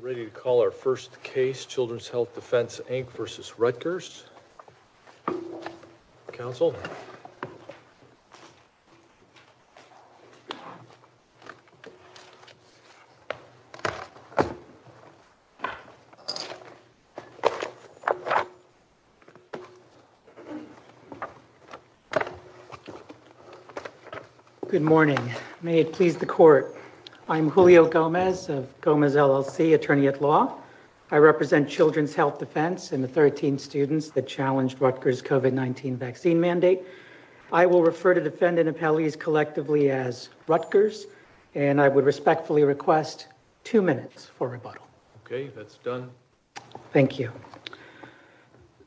Ready to call our first case Children's Health Defense Inc. v. Rutgers. Counsel. Good morning. May it please the court. I'm Julio Gomez of Gomez LLC, attorney at law. I represent Children's Health Defense and the 13 students that challenged Rutgers COVID-19 vaccine mandate. I will refer to defendant appellees collectively as Rutgers, and I would respectfully request two minutes for rebuttal. Okay, that's done. Thank you.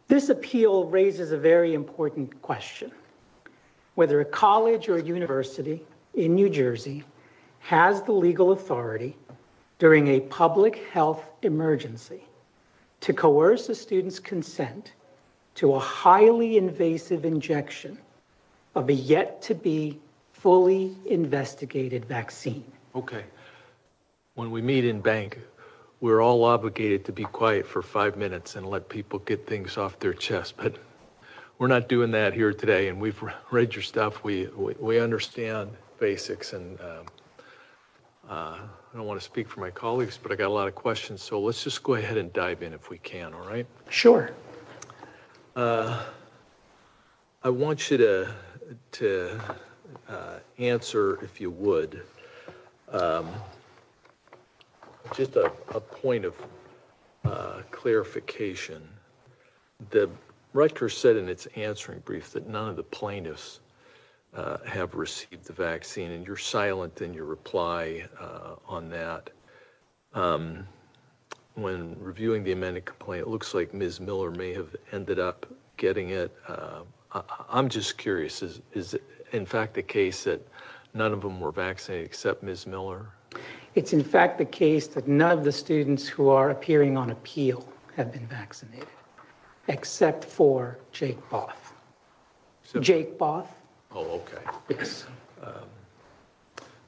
This appeal raises a very important question. Whether a college or university in New Jersey has the legal authority during a public health emergency to coerce a student's consent to a highly invasive injection of a yet to be fully investigated vaccine. Okay. When we meet in bank, we're all obligated to be quiet for five minutes and let people get things off their chest. But we're not doing that here today. And we've read your stuff. We understand basics. And I don't want to speak for my colleagues, but I got a lot of questions. So let's just go ahead and dive in if we can. All right. Sure. I want you to answer if you would just a point of clarification. The Rutgers said in its answering brief that none of the plaintiffs have received the vaccine and you're silent in your reply on that. When reviewing the amended complaint, it looks like Ms. Miller may have ended up getting it. I'm just curious, is it in fact the case that none of them were vaccinated except Ms. Miller? It's in fact the case that none of the students who are appearing on appeal have been vaccinated except for Jake Both. Jake Both? Oh, okay. Yes.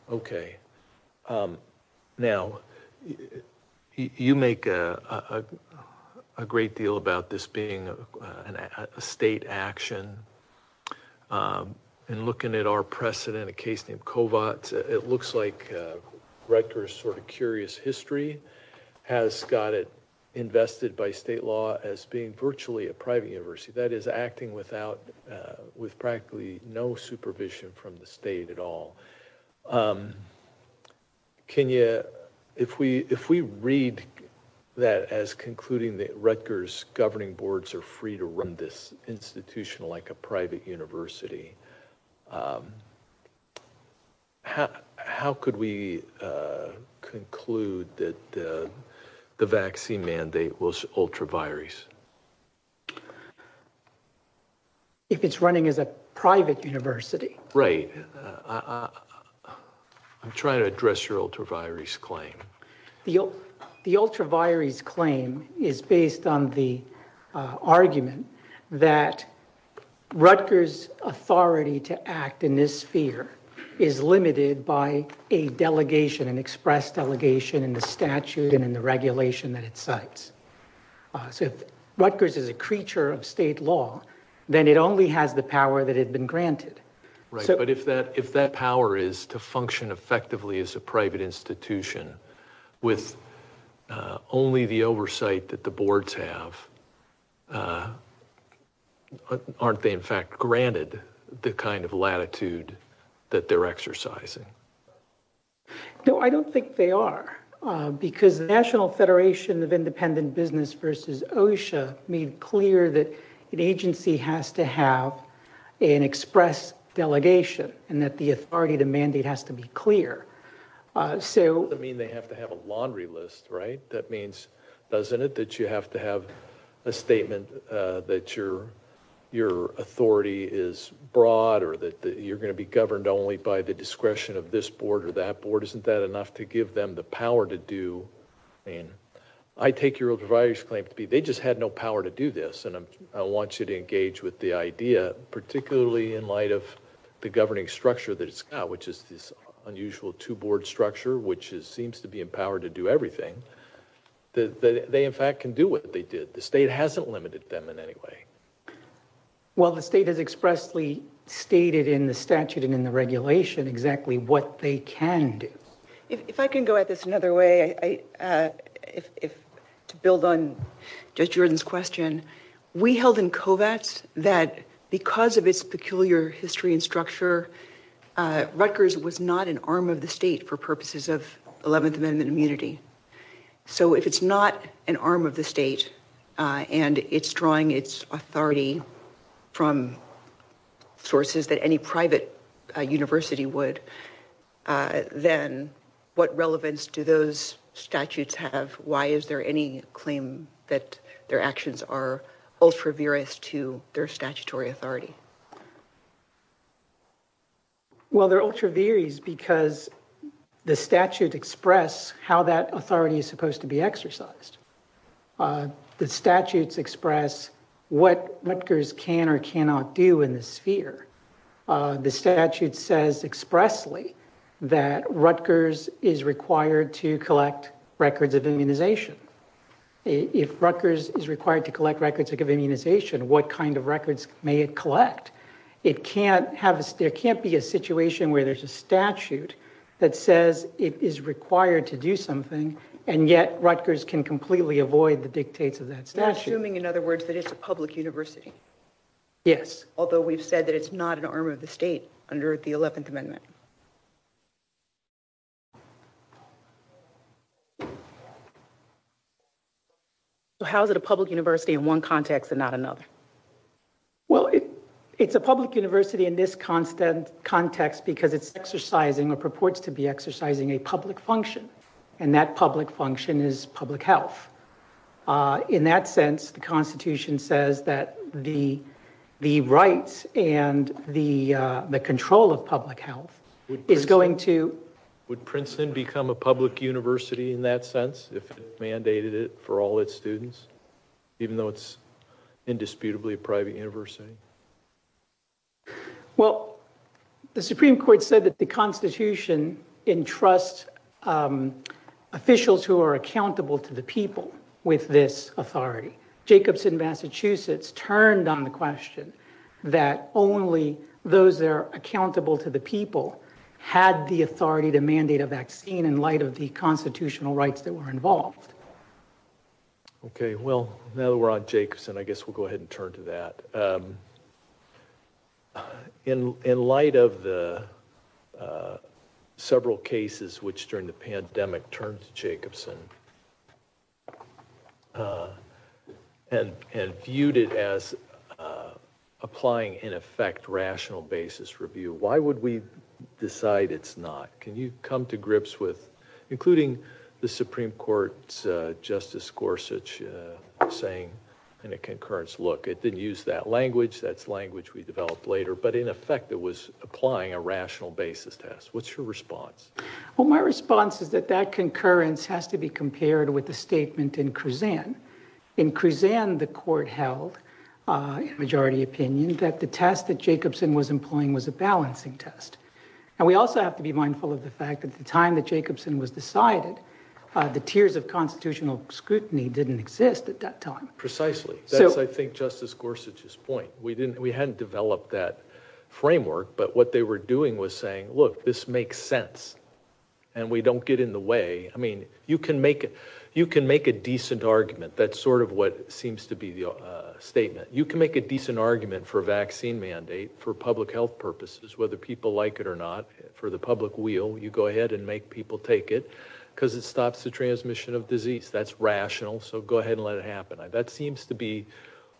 Okay. Now, you make a great deal about this being a state action. And looking at our precedent, a case named Kovats, it looks like Rutgers sort of curious history has got it invested by state law as being virtually a private university. That is acting without, with practically no supervision from the state at all. Can you, if we read that as concluding that Rutgers governing boards are free to run this institution like a private university, how could we conclude that the vaccine mandate was ultra virus? If it's running as a private university? Right. I'm trying to address your ultra virus claim. The ultra virus claim is based on the argument that Rutgers authority to act in this sphere is limited by a delegation, an express delegation in the statute and in the regulation that it cites. So if Rutgers is a creature of state law, then it only has the power that had been granted. Right. But if that, if that power is to function effectively as a private institution with only the oversight that the boards have, aren't they in fact granted the kind of latitude that they're exercising? No, I don't think they are because the National Federation of Independent Business versus OSHA made clear that an agency has to have an express delegation and that the authority to mandate has to be clear. So, I mean, they have to have a laundry list, right? That means, doesn't it, that you have to have a statement that your, your authority is broad or that you're going to be board or that board, isn't that enough to give them the power to do? I mean, I take your ultra virus claim to be, they just had no power to do this. And I'm, I want you to engage with the idea, particularly in light of the governing structure that it's got, which is this unusual two board structure, which is, seems to be empowered to do everything that they in fact can do what they did. The state hasn't limited them in any way. Well, the state has expressly stated in the statute and in the regulation exactly what they can do. If I can go at this another way, if, to build on Judge Jordan's question, we held in Covats that because of its peculiar history and structure, Rutgers was not an arm of the state for purposes of 11th Amendment immunity. So if it's not an arm of the state and it's drawing its authority from sources that any private university would, then what relevance do those statutes have? Why is there any claim that their actions are ultra virus to their statutory authority? Well, they're ultra virus because the statute express how that authority is supposed to be expressed. The statutes express what Rutgers can or cannot do in the sphere. The statute says expressly that Rutgers is required to collect records of immunization. If Rutgers is required to collect records of immunization, what kind of records may it collect? It can't have, there can't be a situation where there's a statute that says it is required to do something, and yet Rutgers can completely avoid the dictates of that statute. Assuming, in other words, that it's a public university. Yes. Although we've said that it's not an arm of the state under the 11th Amendment. So how is it a public university in one context and not another? Well, it's a public university in this context because it's exercising or purports to be public health. In that sense, the Constitution says that the rights and the control of public health is going to... Would Princeton become a public university in that sense if it mandated it for all its students, even though it's indisputably a private university? Well, the Supreme Court said that the Constitution entrusts officials who are accountable to the people with this authority. Jacobson, Massachusetts, turned on the question that only those that are accountable to the people had the authority to mandate a vaccine in light of the constitutional rights that were involved. Okay, well, now that we're on Jacobson, I guess we'll go ahead and turn to that. So in light of the several cases which during the pandemic turned to Jacobson and viewed it as applying in effect rational basis review, why would we decide it's not? Can you come to grips with, including the Supreme Court's Justice Gorsuch saying in a concurrence look, it didn't use that language, that's language we developed later, but in effect it was applying a rational basis test. What's your response? Well, my response is that that concurrence has to be compared with the statement in Kruzan. In Kruzan, the court held, in majority opinion, that the test that Jacobson was employing was a balancing test. And we also have to be mindful of the fact that the time that Jacobson was decided, the tiers of constitutional scrutiny didn't exist at that time. Precisely. So I think Justice Gorsuch's point, we didn't, we hadn't developed that framework, but what they were doing was saying, look, this makes sense and we don't get in the way. I mean, you can make it, you can make a decent argument. That's sort of what seems to be the statement. You can make a decent argument for vaccine mandate for public health purposes, whether people like it or not for the public wheel, you go ahead and make people take it because it stops the transmission of disease. That's rational. So go ahead and let it happen. That seems to be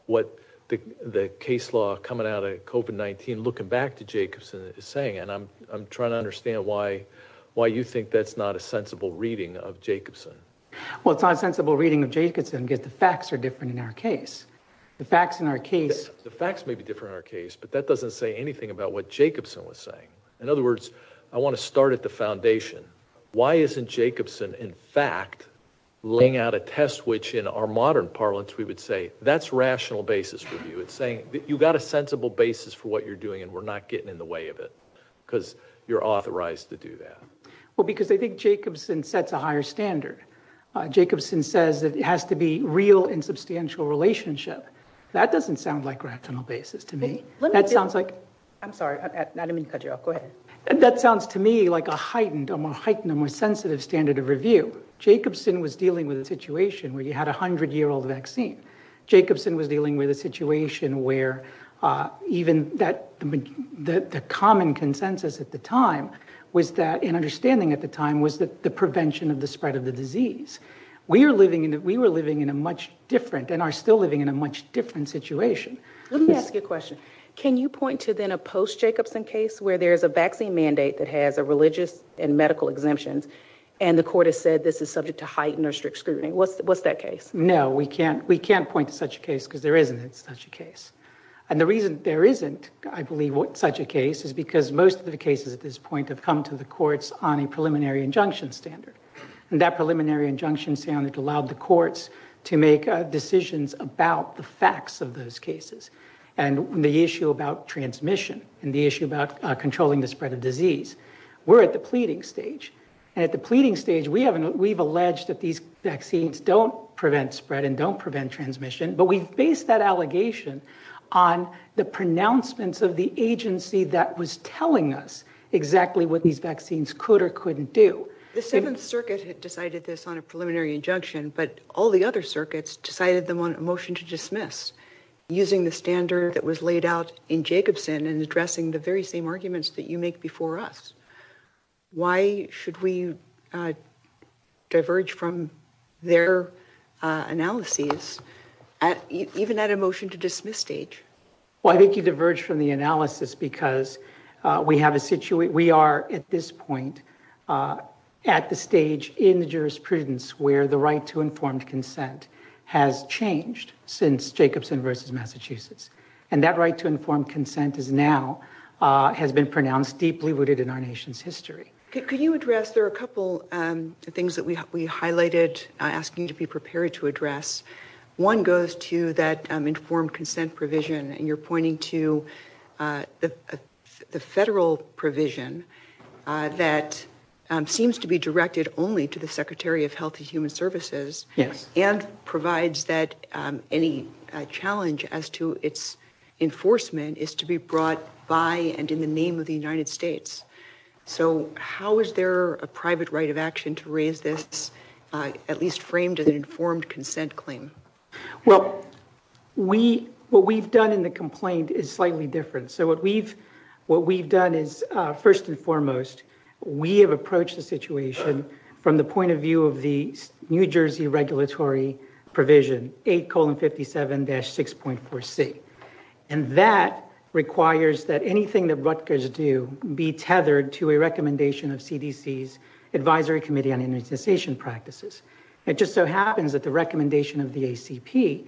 what the case law coming out of COVID-19 looking back to Jacobson is saying. And I'm, I'm trying to understand why, why you think that's not a sensible reading of Jacobson. Well, it's not a sensible reading of Jacobson because the facts are different in our case. The facts in our case. The facts may be different in our case, but that doesn't say anything about what Jacobson was saying. In other words, I want to start at the foundation. Why isn't Jacobson? In fact, laying out a test, which in our modern parlance, we would say that's rational basis review. It's saying that you've got a sensible basis for what you're doing and we're not getting in the way of it because you're authorized to do that. Well, because I think Jacobson sets a higher standard. Jacobson says that it has to be real and substantial relationship. That doesn't sound like rational basis to me. That sounds like. I'm sorry. I didn't mean to cut you off. Go ahead. That sounds to me like a heightened, a more heightened, a more sensitive standard of review. Jacobson was dealing with a situation where you had a hundred year old vaccine. Jacobson was dealing with a situation where even that, the common consensus at the time was that an understanding at the time was that the prevention of the spread of the disease. We are living in, we were living in a much different and are still living in a much different situation. Let me ask you a question. Can you point to then a post Jacobson case where there's a vaccine mandate that has a religious and medical exemptions and the court has said this is subject to heightened or strict scrutiny? What's, what's that case? No, we can't, we can't point to such a case because there isn't such a case. And the reason there isn't, I believe what such a case is because most of the cases at this point have come to the courts on a preliminary injunction standard and that preliminary injunction standard allowed the courts to make decisions about the facts of those cases and the issue about transmission and the issue about controlling the spread of disease. We're at the pleading stage and at the pleading stage we haven't, we've alleged that these vaccines don't prevent spread and don't prevent transmission, but we've based that allegation on the pronouncements of the agency that was telling us exactly what these vaccines could or couldn't do. The Seventh Circuit had decided this on a preliminary injunction, but all the other circuits decided them on a motion to dismiss using the standard that was laid out in Jacobson and addressing the very same arguments that you make before us. Why should we diverge from their analyses at, even at a motion to dismiss stage? Well, I think you diverge from the analysis because we have a situation, we are at this point at the stage in the jurisprudence where the right to informed consent has changed since Jacobson versus Massachusetts. And that right to informed consent is now, has been pronounced deeply rooted in our nation's history. Could you address, there are a couple things that we highlighted asking you to be prepared to address. One goes to that informed consent provision and you're pointing to the federal provision that seems to be directed only to the Secretary of Health and Human Services and provides that any challenge as to its enforcement is to be brought by and in the name of the United States. So how is there a private right of action to raise this, at least framed as an informed consent claim? Well, we, what we've done in the complaint is slightly different. So what we've, what we've done is first and foremost, we have approached the situation from the point of view of the New Jersey regulatory provision, 8 colon 57 dash 6.4 C. And that requires that anything that Rutgers do be tethered to a recommendation of CDC's advisory committee practices. It just so happens that the recommendation of the ACP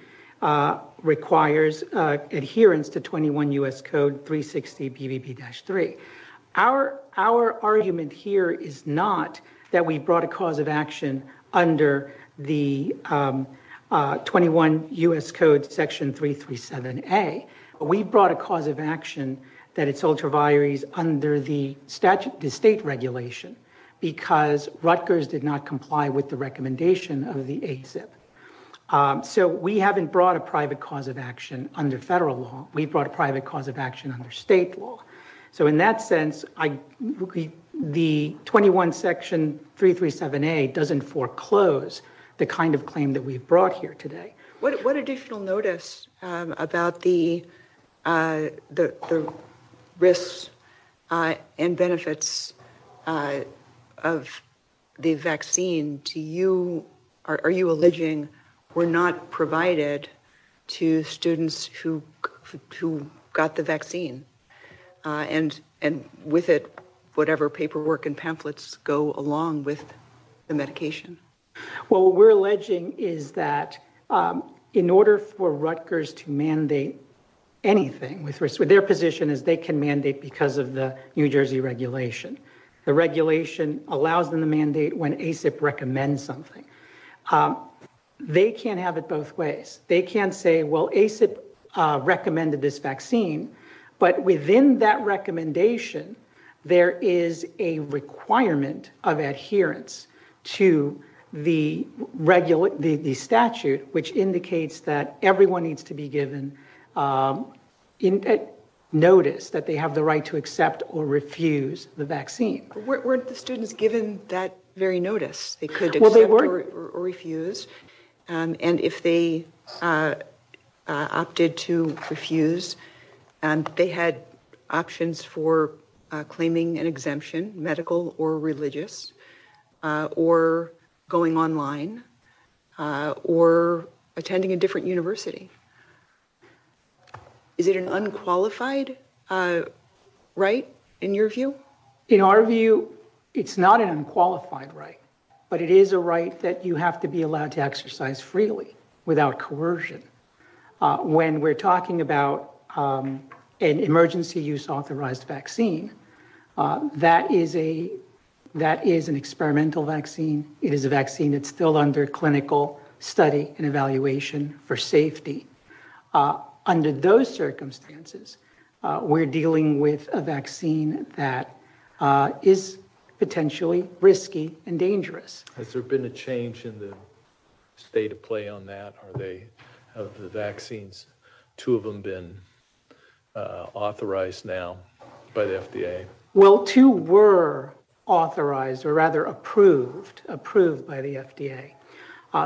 requires adherence to 21 U.S. code 360 PVP dash three. Our, our argument here is not that we brought a cause of action under the 21 U.S. code section 337 A. We brought a cause of action that under the statute, the state regulation, because Rutgers did not comply with the recommendation of the ACIP. So we haven't brought a private cause of action under federal law. We brought a private cause of action under state law. So in that sense, I, the 21 section 337 A doesn't foreclose the kind of claim that we've brought here today. What additional notice about the, the risks and benefits of the vaccine to you, are you alleging were not provided to students who, who got the vaccine and, and with it, whatever paperwork and pamphlets go along with the medication? Well, we're alleging is that in order for Rutgers to mandate anything with risk with their position is they can mandate because of the New Jersey regulation. The regulation allows them to mandate when ACIP recommends something. They can't have it both ways. They can say, well, ACIP recommended this vaccine, but within that recommendation, there is a requirement of adherence to the regular, the statute, which indicates that everyone needs to be given notice that they have the right to accept or refuse the vaccine. Weren't the students given that very notice they could refuse. And if they opted to refuse they had options for claiming an exemption, medical or religious or going online or attending a different university. Is it an unqualified right in your view? In our view, it's not an unqualified right, but it is a right that you have to be allowed to exercise freely without coercion. When we're talking about an emergency use authorized vaccine, that is a, that is an experimental vaccine. It is a vaccine that's still under clinical study and evaluation for safety. Under those circumstances, we're dealing with a vaccine that is potentially risky and dangerous. Has there been a change in the state of play on that? Are they, have the vaccines, two of them been authorized now by the FDA? Well, two were authorized or rather approved, approved by the FDA.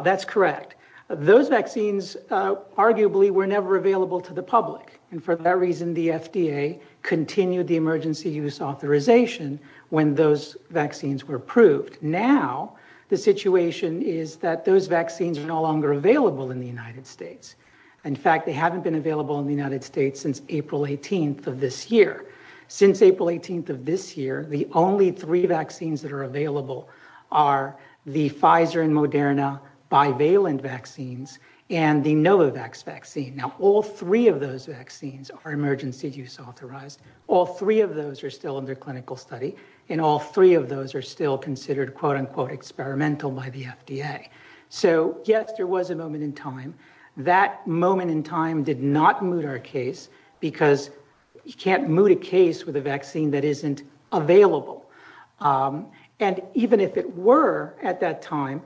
That's correct. Those vaccines arguably were never available to the public. And for that reason, the FDA continued the emergency use authorization when those vaccines were approved. Now, the situation is that those vaccines are no longer available in the United States. In fact, they haven't been available in the United States since April 18th of this year. Since April 18th of this year, the only three vaccines that are available are the Pfizer and Moderna bivalent vaccines and the Novavax vaccine. Now, all three of those and all three of those are still considered quote unquote experimental by the FDA. So yes, there was a moment in time. That moment in time did not moot our case because you can't moot a case with a vaccine that isn't available. And even if it were at that time,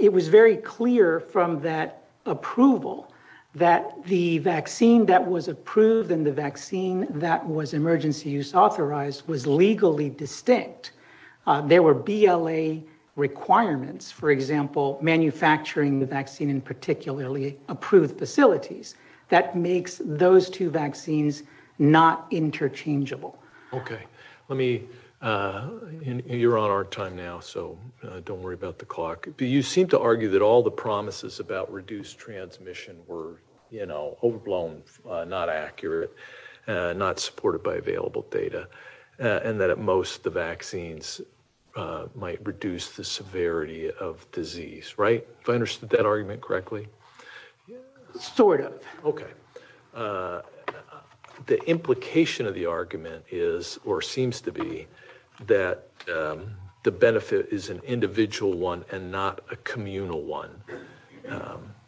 it was very clear from that approval that the vaccine that was approved and the vaccine that was emergency use authorized was legally distinct. There were BLA requirements, for example, manufacturing the vaccine in particularly approved facilities. That makes those two vaccines not interchangeable. Okay. Let me, you're on our time now, so don't worry about the clock. You seem to argue that all the promises about reduced transmission were, you know, overblown, not accurate, not supported by available data, and that at most the vaccines might reduce the severity of disease, right? If I understood that argument correctly? Sort of. Okay. The implication of the argument is or seems to be that the benefit is an individual one and not a communal one.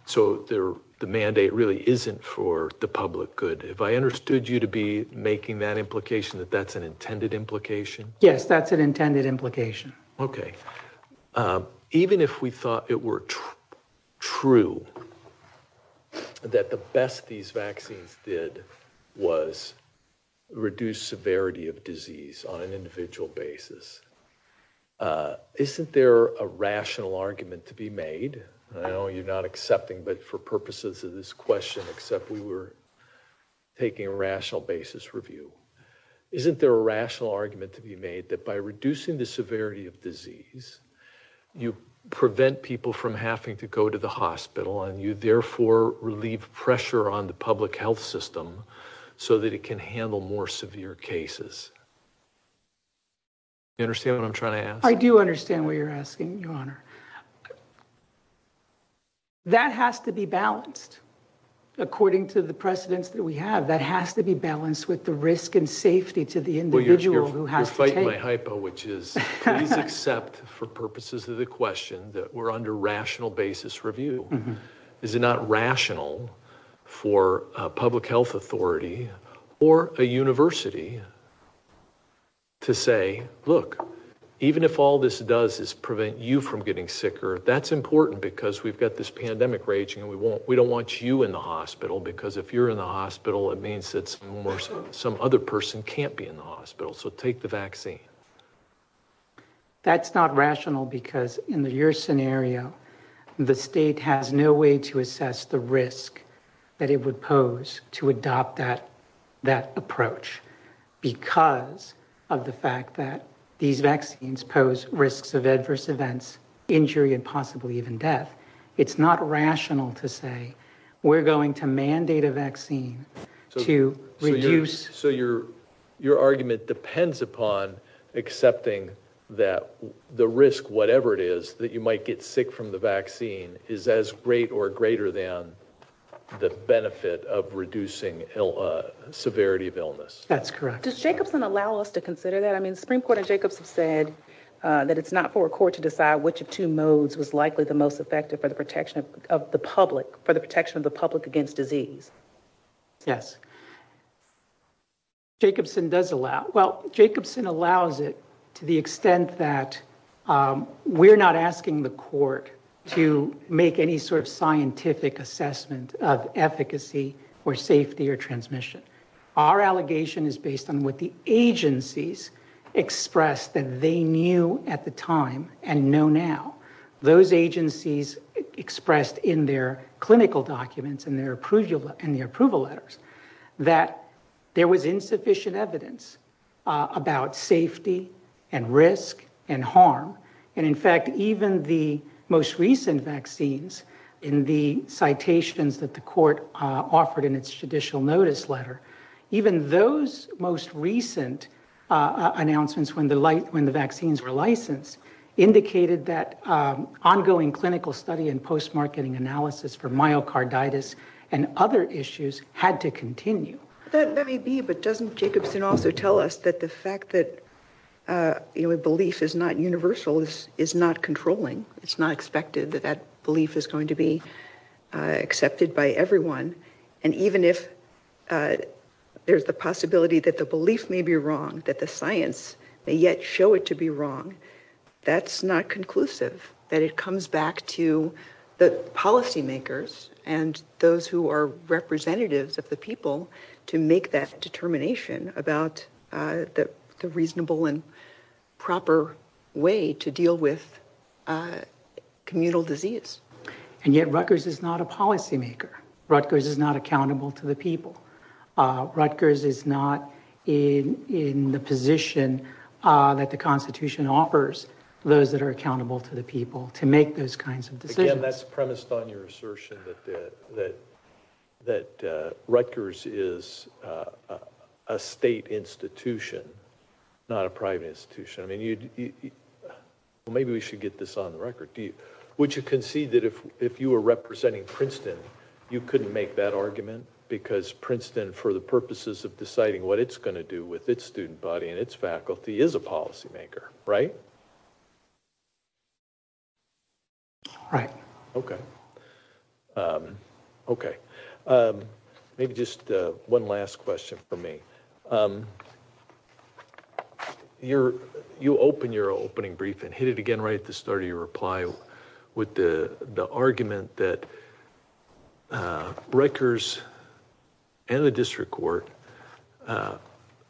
So the mandate really isn't for the public good. Have I understood you to be making that implication that that's an intended implication? Yes, that's an intended implication. Okay. Even if we thought it were true that the best these vaccines did was reduce severity of disease, and I know you're not accepting, but for purposes of this question, except we were taking a rational basis review, isn't there a rational argument to be made that by reducing the severity of disease, you prevent people from having to go to the hospital and you therefore relieve pressure on the public health system so that it can handle more severe cases? You understand what I'm trying to ask? I do understand what you're asking, Your Honor. That has to be balanced. According to the precedents that we have, that has to be balanced with the risk and safety to the individual who has to take it. Well, you're fighting my hypo, which is please accept for purposes of the question that we're under rational basis review. Is it not rational for a public health authority or a university to say, look, even if all this does is prevent you from getting sicker, that's important because we've got this pandemic raging and we don't want you in the hospital because if you're in the hospital, it means that some other person can't be in the hospital. So, take the vaccine. That's not rational because in your scenario, the state has no way to assess the risk that it would pose to adopt that approach because of the fact that these vaccines pose risks of adverse events, injury and possibly even death. It's not rational to say we're going to mandate a vaccine to reduce. So, your argument depends upon accepting that the risk, whatever it is, that you might get sick from the vaccine is as great or greater than the benefit of reducing severity of illness. That's correct. Does Jacobson allow us to consider that? I mean, for a court to decide which of two modes was likely the most effective for the protection of the public, for the protection of the public against disease. Yes, Jacobson does allow. Well, Jacobson allows it to the extent that we're not asking the court to make any sort of scientific assessment of efficacy or safety or transmission. Our allegation is based on what the agencies expressed that they knew at the time and know now. Those agencies expressed in their clinical documents and their approval and the approval letters that there was insufficient evidence about safety and risk and harm and in fact, even the most recent vaccines in the citations that court offered in its judicial notice letter, even those most recent announcements when the vaccines were licensed indicated that ongoing clinical study and post-marketing analysis for myocarditis and other issues had to continue. That may be, but doesn't Jacobson also tell us that the fact that belief is not universal is not controlling. It's not expected that that everyone, and even if there's the possibility that the belief may be wrong, that the science may yet show it to be wrong, that's not conclusive. That it comes back to the policymakers and those who are representatives of the people to make that determination about the reasonable and Rutgers is not accountable to the people. Rutgers is not in the position that the constitution offers those that are accountable to the people to make those kinds of decisions. Again, that's premised on your assertion that Rutgers is a state institution, not a private institution. I mean, maybe we should get this on the record. Would you concede that if you couldn't make that argument because Princeton, for the purposes of deciding what it's going to do with its student body and its faculty, is a policymaker, right? Right. Okay. Okay. Maybe just one last question for me. You're, you open your opening brief and hit it again right at the start of your reply with the argument that Rutgers and the district court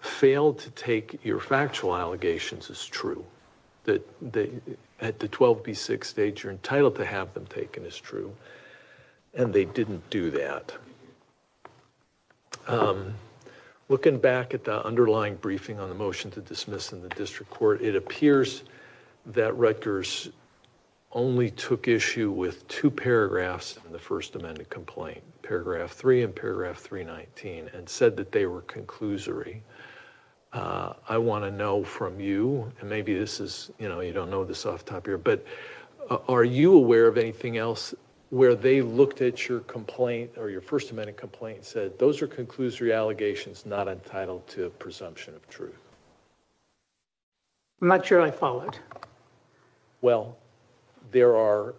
failed to take your factual allegations as true, that at the 12B6 stage you're entitled to have them taken as true, and they didn't do that. Looking back at the underlying briefing on the motion to dismiss in the district court, it appears that Rutgers only took issue with two paragraphs in the first amended complaint, paragraph three and paragraph 319, and said that they were conclusory. I want to know from you, and maybe this is, you know, you don't know this off the top here, but are you aware of anything else where they looked at your complaint or your first amended complaint and said those are conclusory allegations not entitled to a presumption of truth? I'm not sure I followed. Well, there are,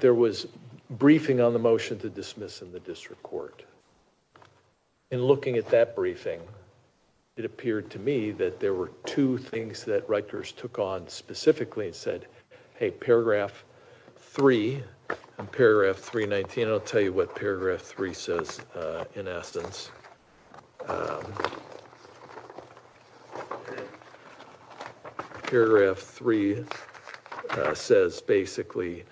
there was briefing on the motion to dismiss in the district court. In looking at that briefing, it appeared to me that there were two things that Rutgers took on specifically and said, hey, paragraph three and paragraph 319, I'll tell you what paragraph three says in essence. Paragraph three says basically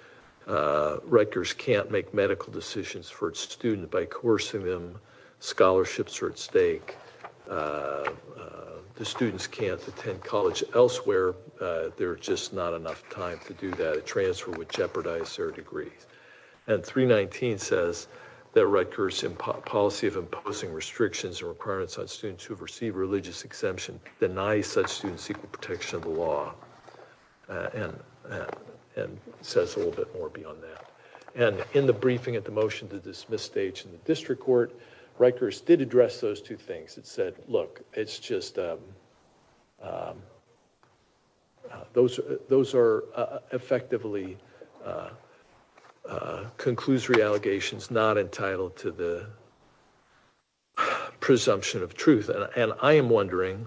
Rutgers can't make medical decisions for its student by coercing them. Scholarships are at stake. The students can't attend college elsewhere. There's just not enough time to do that. A transfer would jeopardize their degrees. And 319 says that Rutgers policy of imposing restrictions and requirements on students who have received religious exemption denies such students equal protection of the law and says a little bit more beyond that. And in the briefing at the motion to dismiss stage in the district court, Rutgers did address those two things. It said, look, it's just those are effectively conclusory allegations not entitled to the presumption of truth. And I am wondering,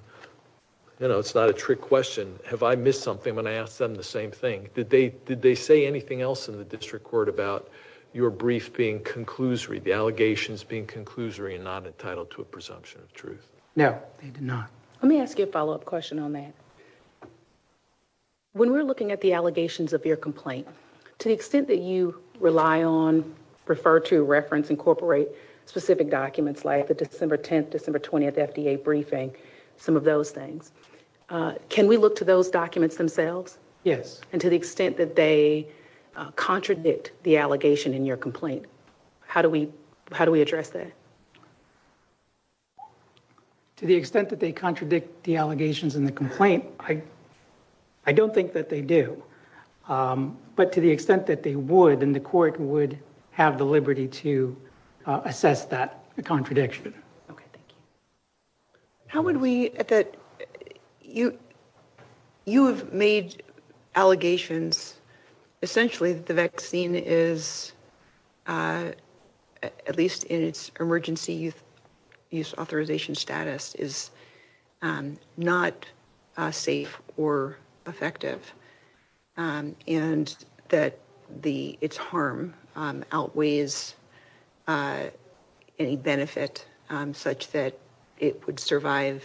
you know, it's not a trick question. Have I missed something when I asked them the same thing? Did they say anything else in the district court about your brief being conclusory, the allegations being conclusory and not entitled to a presumption of truth? No, they did not. Let me ask you a follow-up question on that. When we're looking at the allegations of your complaint, to the extent that you rely on, refer to, reference, incorporate specific documents like the December 10th, December 20th FDA briefing, some of those things, can we look to those documents themselves? Yes. And to the extent that they contradict the allegation in your complaint, how do we address that? To the extent that they contradict the allegations in the complaint, I don't think that they do. But to the extent that they would, then the court would have the liberty to assess that contradiction. Okay, thank you. How would we, at that, you, you have made allegations essentially that the vaccine is, at least in its emergency use authorization status, is not safe or effective and that the, its harm outweighs any benefit such that it would survive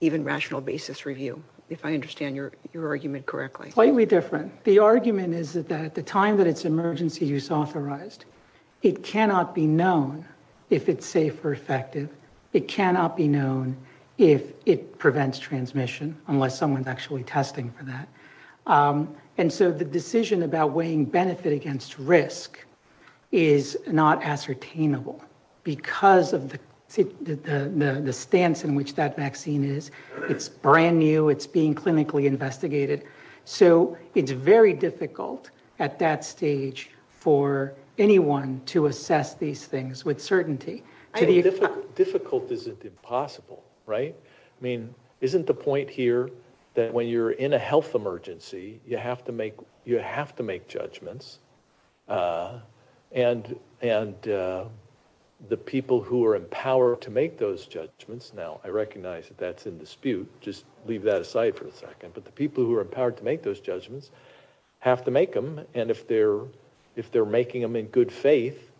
even rational basis review, if I understand your argument correctly. Slightly different. The argument is that at the time that it's emergency use authorized, it cannot be known if it's safe or effective. It cannot be known if it prevents transmission, unless someone's actually testing for that. And so the decision about weighing benefit against risk is not ascertainable because of the stance in which that vaccine is. It's brand new, it's being clinically investigated. So it's very difficult at that stage for anyone to assess these things with certainty. Difficult isn't impossible, right? I mean, isn't the point here that when you're in a health emergency, you have to make, you have to make judgments. And, and the people who are empowered to make those judgments, now I recognize that that's a dispute, just leave that aside for a second, but the people who are empowered to make those judgments have to make them. And if they're, if they're making them in good faith,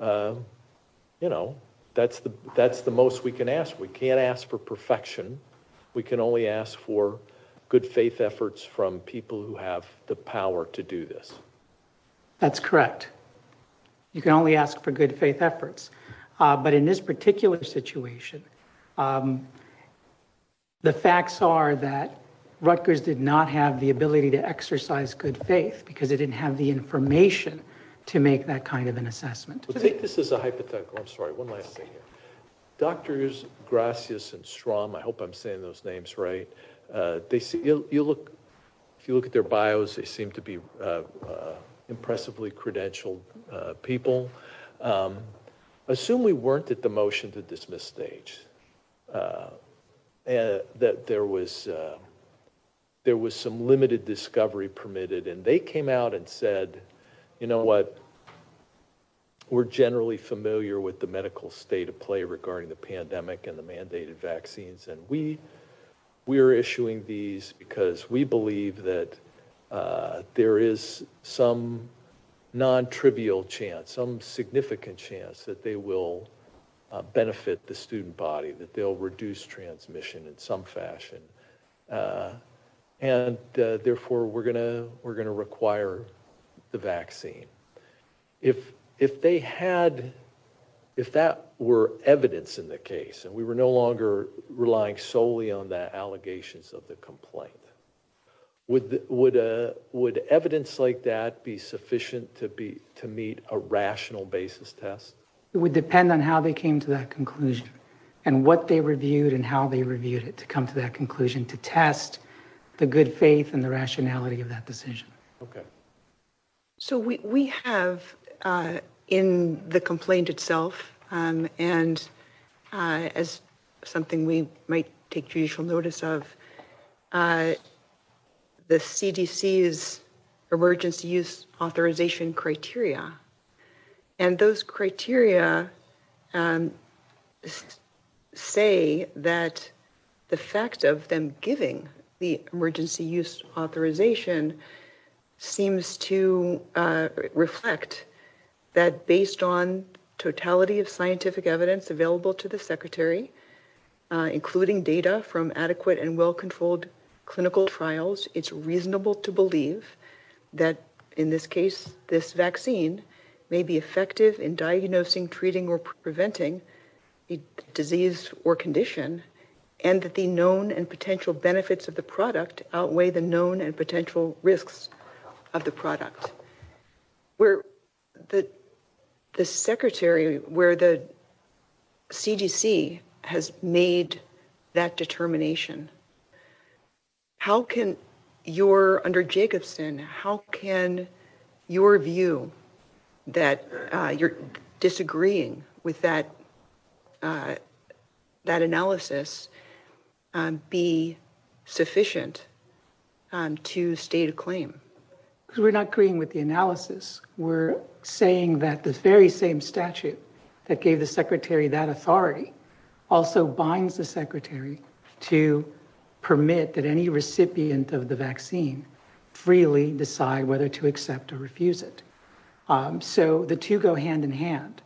you know, that's the, that's the most we can ask. We can't ask for perfection. We can only ask for good faith efforts from people who have the power to do this. That's correct. You can only ask for good faith efforts. But in this particular situation, the facts are that Rutgers did not have the ability to exercise good faith because they didn't have the information to make that kind of an assessment. I think this is a hypothetical, I'm sorry, one last thing here. Doctors Gracias and Strom, I hope I'm saying those names right, they see, you look, if you look at their bios, they seem to be impressively credentialed people. Um, assume we weren't at the motion to dismiss stage, uh, that there was, uh, there was some limited discovery permitted and they came out and said, you know what, we're generally familiar with the medical state of play regarding the pandemic and the mandated vaccines. And we, we're issuing these because we believe that, uh, there is some non-trivial chance, some significant chance that they will benefit the student body, that they'll reduce transmission in some fashion. Uh, and, uh, therefore we're gonna, we're gonna require the vaccine. If, if they had, if that were evidence in the case and we were no longer relying solely on the allegations of the complaint, would, would, uh, would evidence like be sufficient to be, to meet a rational basis test? It would depend on how they came to that conclusion and what they reviewed and how they reviewed it to come to that conclusion, to test the good faith and the rationality of that decision. Okay. So we, we have, uh, in the complaint itself, um, and, uh, as something we might take judicial notice of, uh, the CDC's emergency use authorization criteria. And those criteria, um, say that the fact of them giving the emergency use authorization seems to, uh, reflect that based on totality of scientific evidence available to the secretary, uh, including data from adequate and well-controlled clinical trials, it's reasonable to believe that in this case, this vaccine may be effective in diagnosing, treating, or preventing a disease or condition. And that the known and potential benefits of the product outweigh the known and potential risks of the product where the, the secretary, where the CDC has made that determination. How can your, under Jacobson, how can your view that, uh, you're disagreeing with that, uh, that analysis, um, be sufficient, um, to state a claim? Because we're not agreeing with the analysis. We're saying that the very same statute that gave the secretary that authority also binds the secretary to permit that any recipient of the vaccine freely decide whether to accept or refuse it. Um, so the two go hand in hand.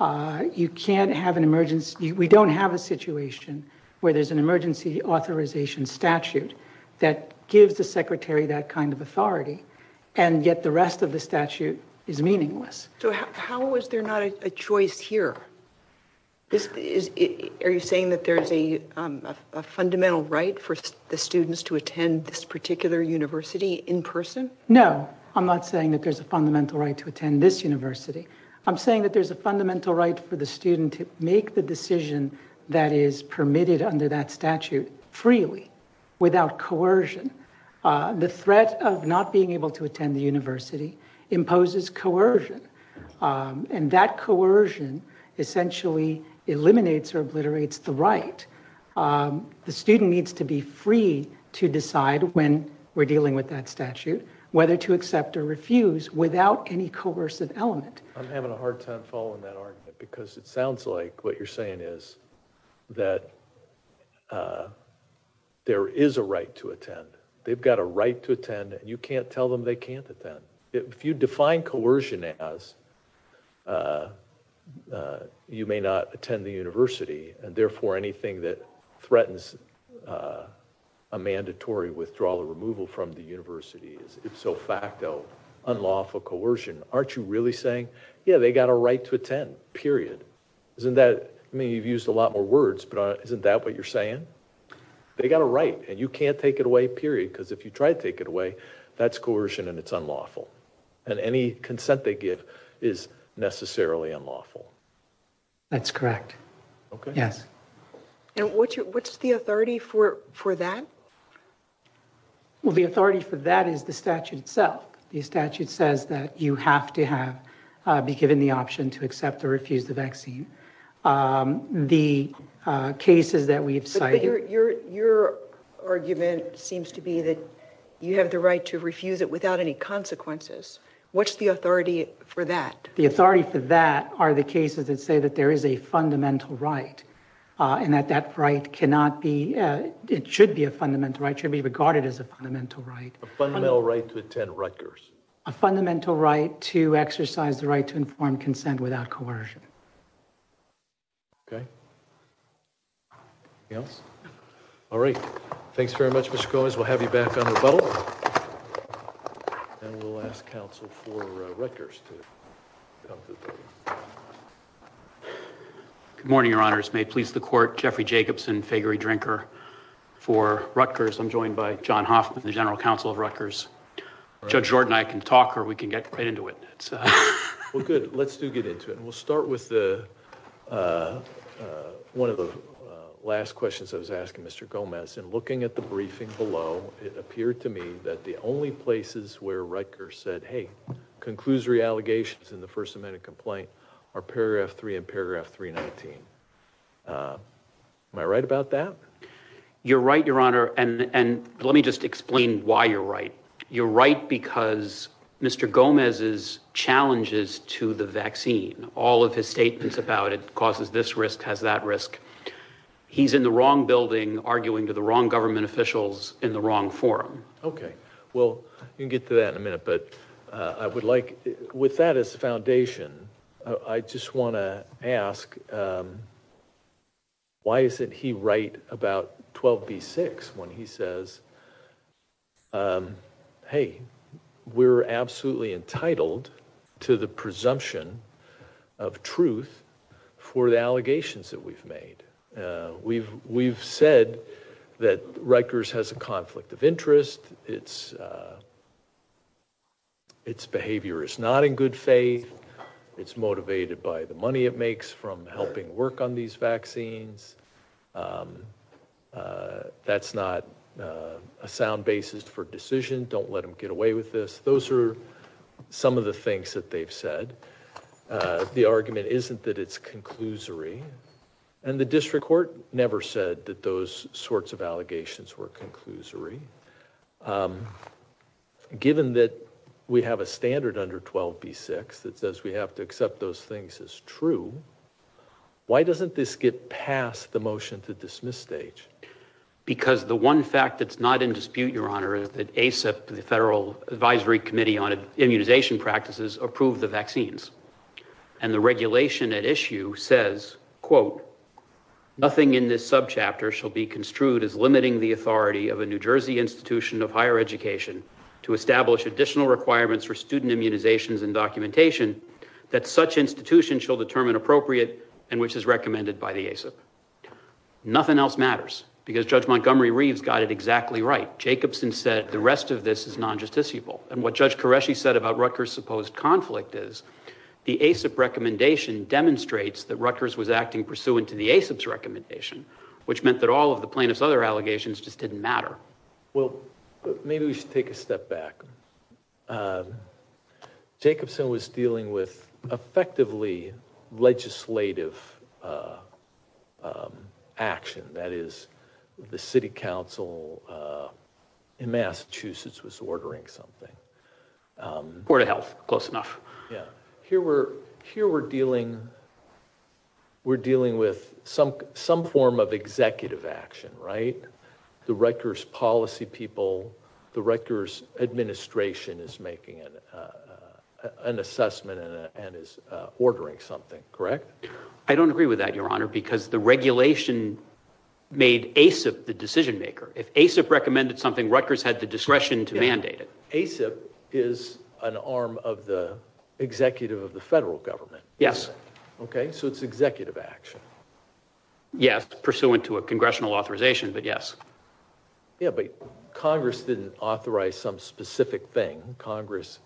Uh, you can't have an emergency. We don't have a situation where there's an emergency authorization statute that gives the secretary that kind of authority and yet the rest of the statute is meaningless. So how was there not a choice here? This is, are you saying that there's a, um, a fundamental right for the students to attend this particular university in person? No, I'm not saying that there's a fundamental right to attend this university. I'm saying that there's a fundamental right for the the threat of not being able to attend the university imposes coercion. Um, and that coercion essentially eliminates or obliterates the right. Um, the student needs to be free to decide when we're dealing with that statute, whether to accept or refuse without any coercive element. I'm having a hard time following that argument because it sounds like what you're They've got a right to attend and you can't tell them they can't attend. If you define coercion as, uh, uh, you may not attend the university and therefore anything that threatens, uh, a mandatory withdrawal or removal from the university is if so facto unlawful coercion. Aren't you really saying, yeah, they got a right to attend period. Isn't that, I mean, you've used a lot more words, but isn't that what you're saying? They got a right and you can't take away period because if you try to take it away, that's coercion and it's unlawful and any consent they give is necessarily unlawful. That's correct. Okay. Yes. And what's your, what's the authority for, for that? Well, the authority for that is the statute itself. The statute says that you have to have, uh, be given the option to accept or refuse the vaccine. Um, the, uh, cases that you're, you're, your argument seems to be that you have the right to refuse it without any consequences. What's the authority for that? The authority for that are the cases that say that there is a fundamental right, uh, and that that right cannot be, uh, it should be a fundamental right should be regarded as a fundamental right. A fundamental right to attend Rutgers. A fundamental right to exercise the right to inform consent without coercion. Okay. Okay. Yes. All right. Thanks very much. Mr Gomez. We'll have you back on the bottle and we'll ask counsel for Rutgers to good morning. Your honors may please the court. Jeffrey Jacobson, Figury Drinker for Rutgers. I'm joined by john Hoffman, the general counsel of Rutgers. Judge Jordan, I can talk or we can get right into it. Well, good. Let's do get into it and we'll start with uh, uh, one of the last questions I was asking Mr Gomez and looking at the briefing below, it appeared to me that the only places where Rutgers said, hey, conclusory allegations in the first amendment complaint are paragraph three and paragraph 319. Uh, am I right about that? You're right, your honor. And, and let me just explain why you're right. You're right because Mr Gomez's challenges to the vaccine, all of his statements about it causes this risk has that risk. He's in the wrong building arguing to the wrong government officials in the wrong forum. Okay. Well, you can get to that in a minute, but I would like with that as a foundation, I just want to ask, um, why isn't he right about 12 B six when he says, um, hey, we're absolutely entitled to the presumption of truth for the allegations that we've made. Uh, we've, we've said that Rutgers has a conflict of interest. It's, uh, it's behavior is not in good faith. It's motivated by the money it makes from helping work on these vaccines. Um, uh, that's not, uh, a sound basis for decision. Don't let them get away with this. Those are some of the things that they've said. Uh, the argument isn't that it's conclusory and the district court never said that those sorts of allegations were conclusory. Um, given that we have a standard under 12 B six that says we have to accept those things as true. Why doesn't this get past the motion to dismiss stage? Because the one fact that's not in dispute, your honor, that ASAP, the federal advisory committee on immunization practices approved the vaccines and the regulation at issue says, quote, nothing in this subchapter shall be to establish additional requirements for student immunizations and documentation that such institution shall determine appropriate and which is recommended by the ASAP. Nothing else matters because Judge Montgomery Reeves got it exactly right. Jacobson said the rest of this is non justiciable. And what Judge Qureshi said about Rutgers supposed conflict is the ASAP recommendation demonstrates that Rutgers was acting pursuant to the ASAP's recommendation, which meant that all of the plaintiff's other allegations just didn't matter. Well, maybe we should take a step back. Jacobson was dealing with effectively legislative, uh, um, action. That is, the city council, uh, in Massachusetts was ordering something, um, or to health close enough. Yeah. Here we're here. We're dealing. We're dealing with some, some form of executive action, right? The Rutgers policy people, the Rutgers administration is making an, uh, uh, an assessment and is ordering something, correct? I don't agree with that, your honor, because the regulation made ASAP the decision maker. If ASAP recommended something Rutgers had the discretion to mandate it. ASAP is an arm of the executive of the federal government. Yes. Okay. So it's executive action. Yes. Pursuant to a congressional authorization, but yes. Yeah. But Congress didn't authorize some specific thing. Congress,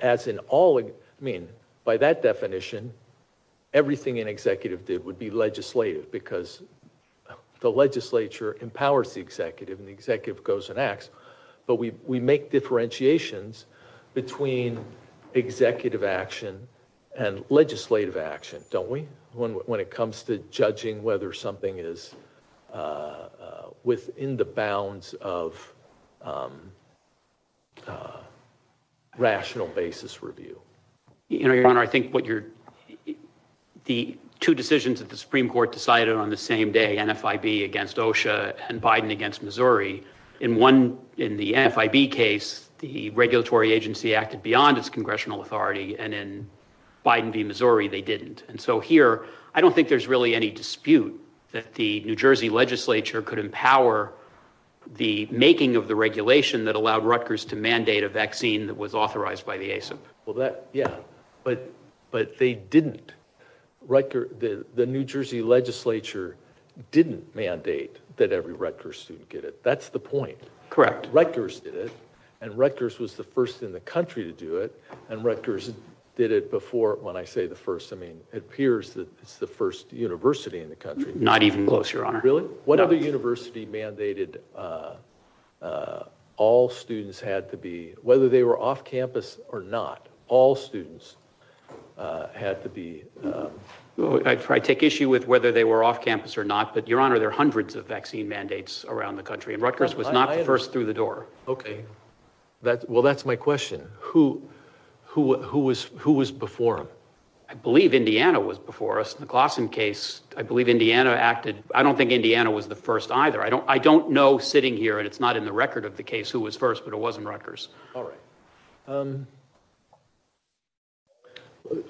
as in all, I mean, by that definition, everything an executive did would be legislative because the legislature empowers the executive and the executive goes and acts, but we, we make differentiations between executive action and legislative action. Don't we? When, when it comes to judging whether something is, uh, uh, within the bounds of, um, uh, rational basis review, you know, your honor, I think what you're, the two decisions that the Supreme court decided on the same day, NFIB against OSHA and Biden against Missouri in one, in the FIB case, the regulatory agency acted beyond its congressional authority and in Biden v. Missouri, they didn't. And so here, I don't think there's really any dispute that the New Jersey legislature could empower the making of the regulation that allowed Rutgers to mandate a vaccine that was authorized by the ASAP. Well that, yeah, but, but they didn't record the, the New Jersey legislature didn't mandate that every Rutgers student get it. That's the point. Correct. Rutgers did it. And Rutgers was the first in the country to do it. And Rutgers did it before. When I say the first, I mean, it appears that it's the first university in the country, not even close your honor. Really? What other university mandated, uh, uh, all students had to be, whether they were off campus or not, all students, uh, had to be, um, I try to take issue with whether they were off campus or not, but your honor, there are hundreds of vaccine mandates around the country and Rutgers was not the first through the pandemic. Okay. That's well, that's my question. Who, who, who was, who was before him? I believe Indiana was before us in the Glasson case. I believe Indiana acted. I don't think Indiana was the first either. I don't, I don't know sitting here and it's not in the record of the case who was first, but it wasn't Rutgers. All right. Um,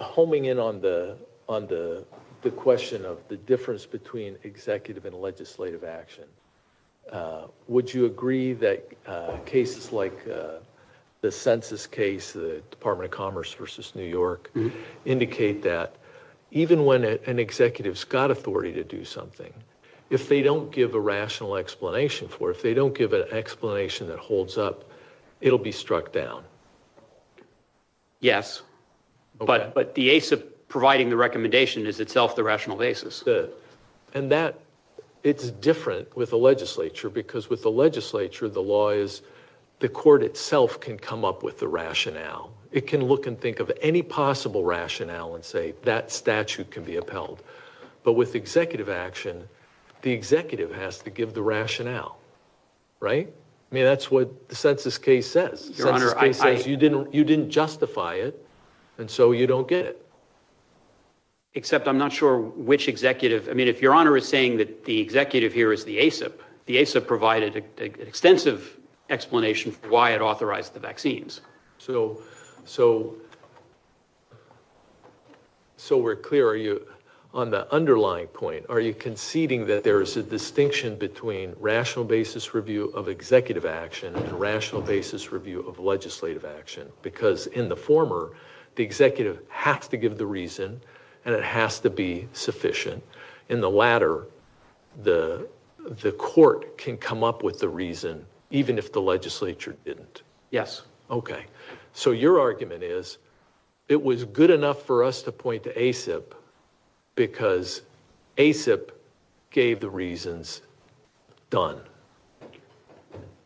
homing in on the, on the, the question of the difference between executive and legislative action. Uh, would you agree that, uh, cases like, uh, the census case, the Department of Commerce versus New York indicate that even when an executive's got authority to do something, if they don't give a rational explanation for it, if they don't give an explanation that holds up, it'll be struck down. Yes, but, but the ACE of providing the recommendation is itself the rational basis. And that it's different with the legislature because with the legislature, the law is the court itself can come up with the rationale. It can look and think of any possible rationale and say that statute can be upheld. But with executive action, the executive has to give the rationale, right? I mean, that's what the census case says. You didn't, you didn't justify it. And so you don't get it except I'm not sure which executive, I mean, if your honor is saying that the executive here is the ASAP, the ASAP provided an extensive explanation for why it authorized the vaccines. So, so, so we're clear. Are you on the underlying point? Are you conceding that there is a distinction between rational basis review of executive action and rational basis review of legislative action? Because in the former, the executive has to give the reason and it has to be sufficient. In the latter, the, the court can come up with the reason, even if the legislature didn't. Yes. Okay. So your argument is it was good enough for us to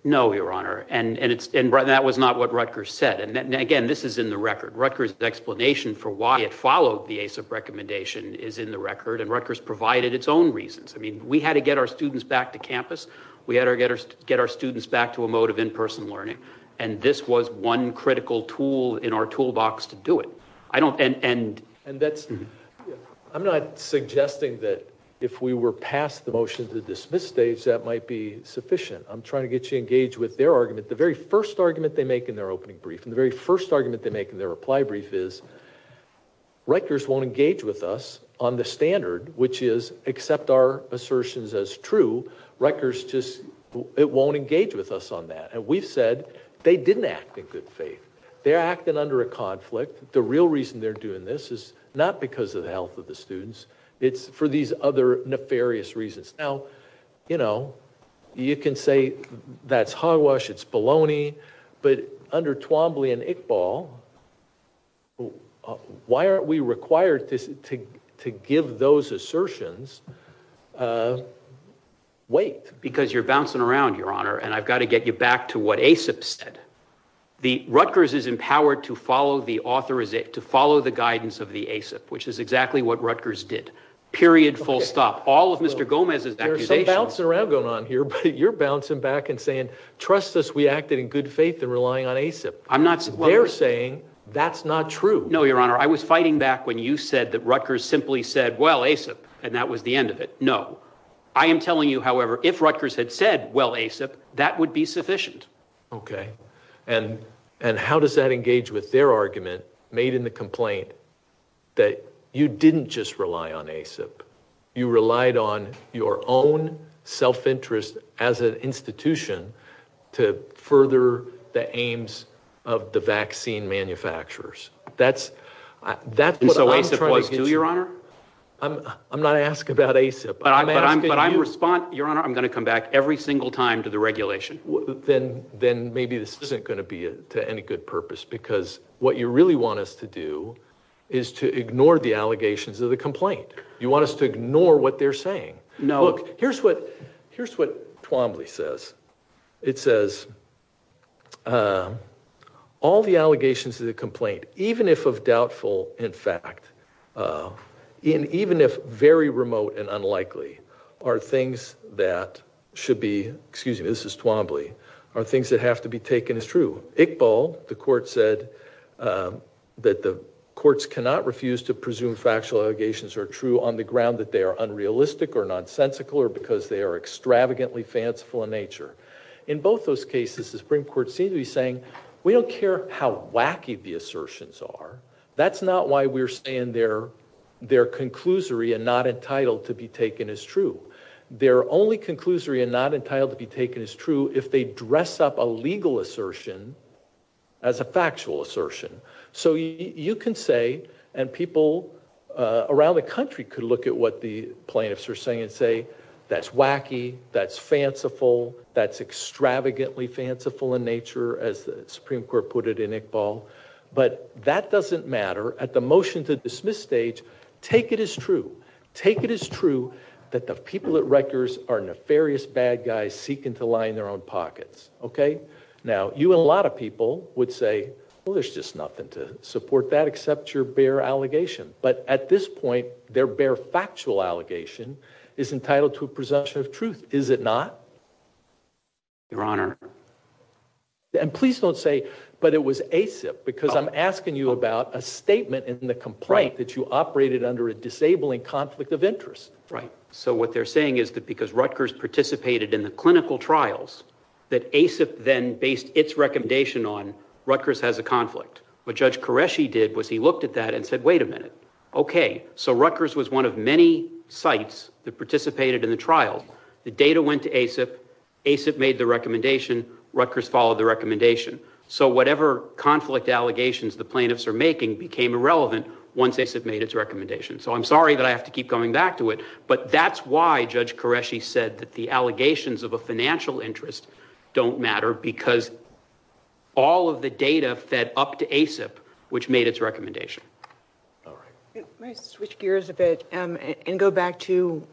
That was not what Rutgers said. And again, this is in the record Rutgers explanation for why it followed the ASAP recommendation is in the record and Rutgers provided its own reasons. I mean, we had to get our students back to campus. We had to get our, get our students back to a mode of in-person learning. And this was one critical tool in our toolbox to do it. I don't, and, and, And that's, I'm not suggesting that if we were past the motion to dismiss stage, that might be sufficient. I'm trying to get you engaged with their argument. The first argument they make in their opening brief and the very first argument they make in their reply brief is Rutgers won't engage with us on the standard, which is accept our assertions as true. Rutgers just, it won't engage with us on that. And we've said they didn't act in good faith. They're acting under a conflict. The real reason they're doing this is not because of the health of the students. It's for these other nefarious reasons. Now, you know, you can say that's hog but under Twombly and Iqbal, why aren't we required to, to, to give those assertions weight? Because you're bouncing around, Your Honor. And I've got to get you back to what ASIP said. The Rutgers is empowered to follow the author is it to follow the guidance of the ASIP, which is exactly what Rutgers did. Period. Full stop. All of Mr. Gomez is bouncing around going on here, but you're bouncing back and saying, trust us, we acted in good faith and relying on ASIP. I'm not saying they're saying that's not true. No, Your Honor. I was fighting back when you said that Rutgers simply said, well, ASIP, and that was the end of it. No, I am telling you. However, if Rutgers had said, well, ASIP, that would be sufficient. Okay. And, and how does that engage with their argument made in the complaint that you didn't just rely on ASIP. You relied on your own self-interest as an institution to further the aims of the vaccine manufacturers. That's, that's what I'm trying to do, Your Honor. I'm not asking about ASIP. But I'm, but I'm respond, Your Honor, I'm going to come back every single time to the regulation. Then, then maybe this isn't going to be to any good purpose because what you really want us to do is to ignore the No. Look, here's what, here's what Twombly says. It says, all the allegations of the complaint, even if of doubtful in fact, even if very remote and unlikely are things that should be, excuse me, this is Twombly, are things that have to be taken as true. Iqbal, the court said that the courts cannot refuse to presume factual allegations are true on the ground that they are unrealistic or nonsensical or because they are extravagantly fanciful in nature. In both those cases, the Supreme Court seems to be saying we don't care how wacky the assertions are. That's not why we're saying they're, they're conclusory and not entitled to be taken as true. They're only conclusory and not entitled to be taken as true if they dress up a legal assertion as a factual assertion. So you can say, and people around the country could look at what the plaintiffs are saying and say, that's wacky, that's fanciful, that's extravagantly fanciful in nature as the Supreme Court put it in Iqbal, but that doesn't matter. At the motion to dismiss stage, take it as true. Take it as true that the people at Rutgers are nefarious bad guys seeking to lie in their own pockets. Okay. Now you and a lot of people would say, well, there's just nothing to support that except your bare allegation. But at this point, their bare factual allegation is entitled to a presumption of truth, is it not? Your Honor. And please don't say, but it was ASIP, because I'm asking you about a statement in the complaint that you operated under a disabling conflict of interest. Right. So what they're saying is that because Rutgers participated in the clinical trials, that ASIP then based its recommendation on Rutgers has a conflict. What Judge Qureshi did was he looked at that and said, wait a minute. Okay. So Rutgers was one of many sites that participated in the trial. The data went to ASIP, ASIP made the recommendation, Rutgers followed the recommendation. So whatever conflict allegations the plaintiffs are making became irrelevant once ASIP made its recommendation. So I'm sorry that I have to keep coming back to it, but that's why Judge Qureshi said that the allegations of a financial interest don't matter because all of the data fed up to ASIP, which made its recommendation. All right. May I switch gears a bit and go back to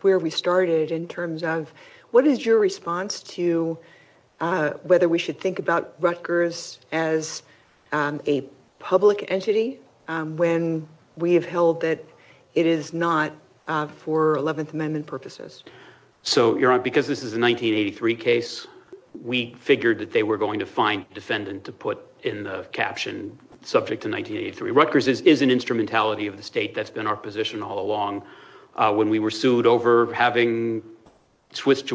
where we started in terms of what is your response to whether we should think about Rutgers as a public entity when we have held that it is not for 11th Amendment purposes? So Your Honor, because this is a 1983 case, we figured that they were going to find a defendant to put in the caption subject to 1983. Rutgers is an instrumentality of the state that's been our position all along. When we were sued over having switched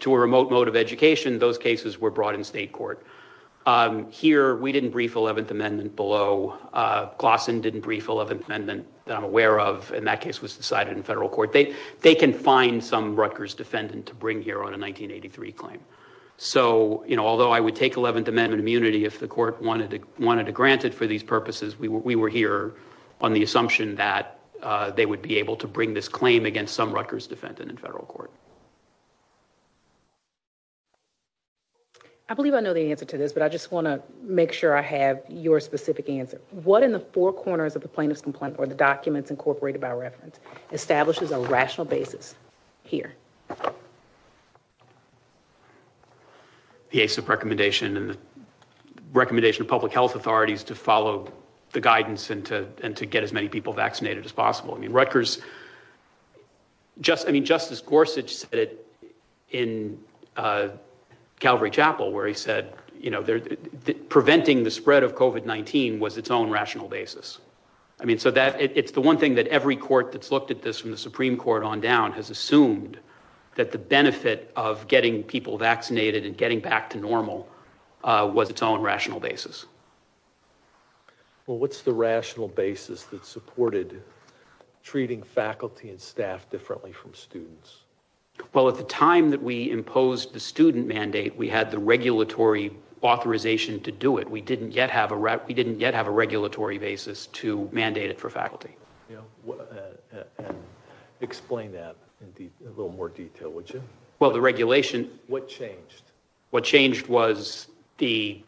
to a remote mode of education, those cases were brought in state court. Here, we didn't brief 11th Amendment below. Glasson didn't brief 11th Amendment that I'm aware of, and that case was decided in federal court. They can find some Rutgers defendant to bring here on a 1983 claim. So, you know, although I would take 11th Amendment immunity if the court wanted to grant it for these purposes, we were here on the assumption that they would be able to bring this claim against some Rutgers defendant in federal court. I believe I know the answer to this, but I just want to make sure I have your specific answer. What in the four corners of the plaintiff's complaint or the documents incorporated by the ACLU? The ACIP recommendation and the recommendation of public health authorities to follow the guidance and to get as many people vaccinated as possible. I mean, Rutgers, just, I mean, Justice Gorsuch said it in Calvary Chapel, where he said, you know, preventing the spread of COVID-19 was its own rational basis. I mean, so that it's the one thing that every court that's looked at this from the Supreme Court on down has assumed that the benefit of getting people vaccinated and getting back to normal was its own rational basis. Well, what's the rational basis that supported treating faculty and staff differently from students? Well, at the time that we imposed the student mandate, we had the regulatory authorization to do it. We didn't yet have a regulatory basis to mandate it for faculty. And explain that in a little more detail, would you? Well, the regulation... What changed? What changed was the...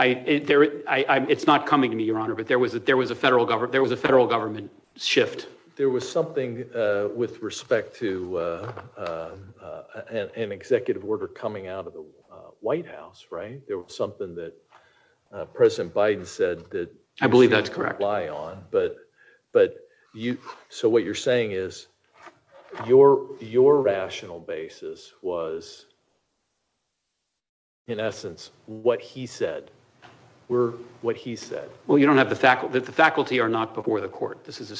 It's not coming to me, Your Honor, but there was a federal government shift. There was something with respect to an executive order coming out of the White House, right? It was something that President Biden said that... I believe that's correct. ...we shouldn't rely on, but you... So what you're saying is your rational basis was, in essence, what he said. We're what he said. Well, you don't have the faculty... The faculty are not before the court. This is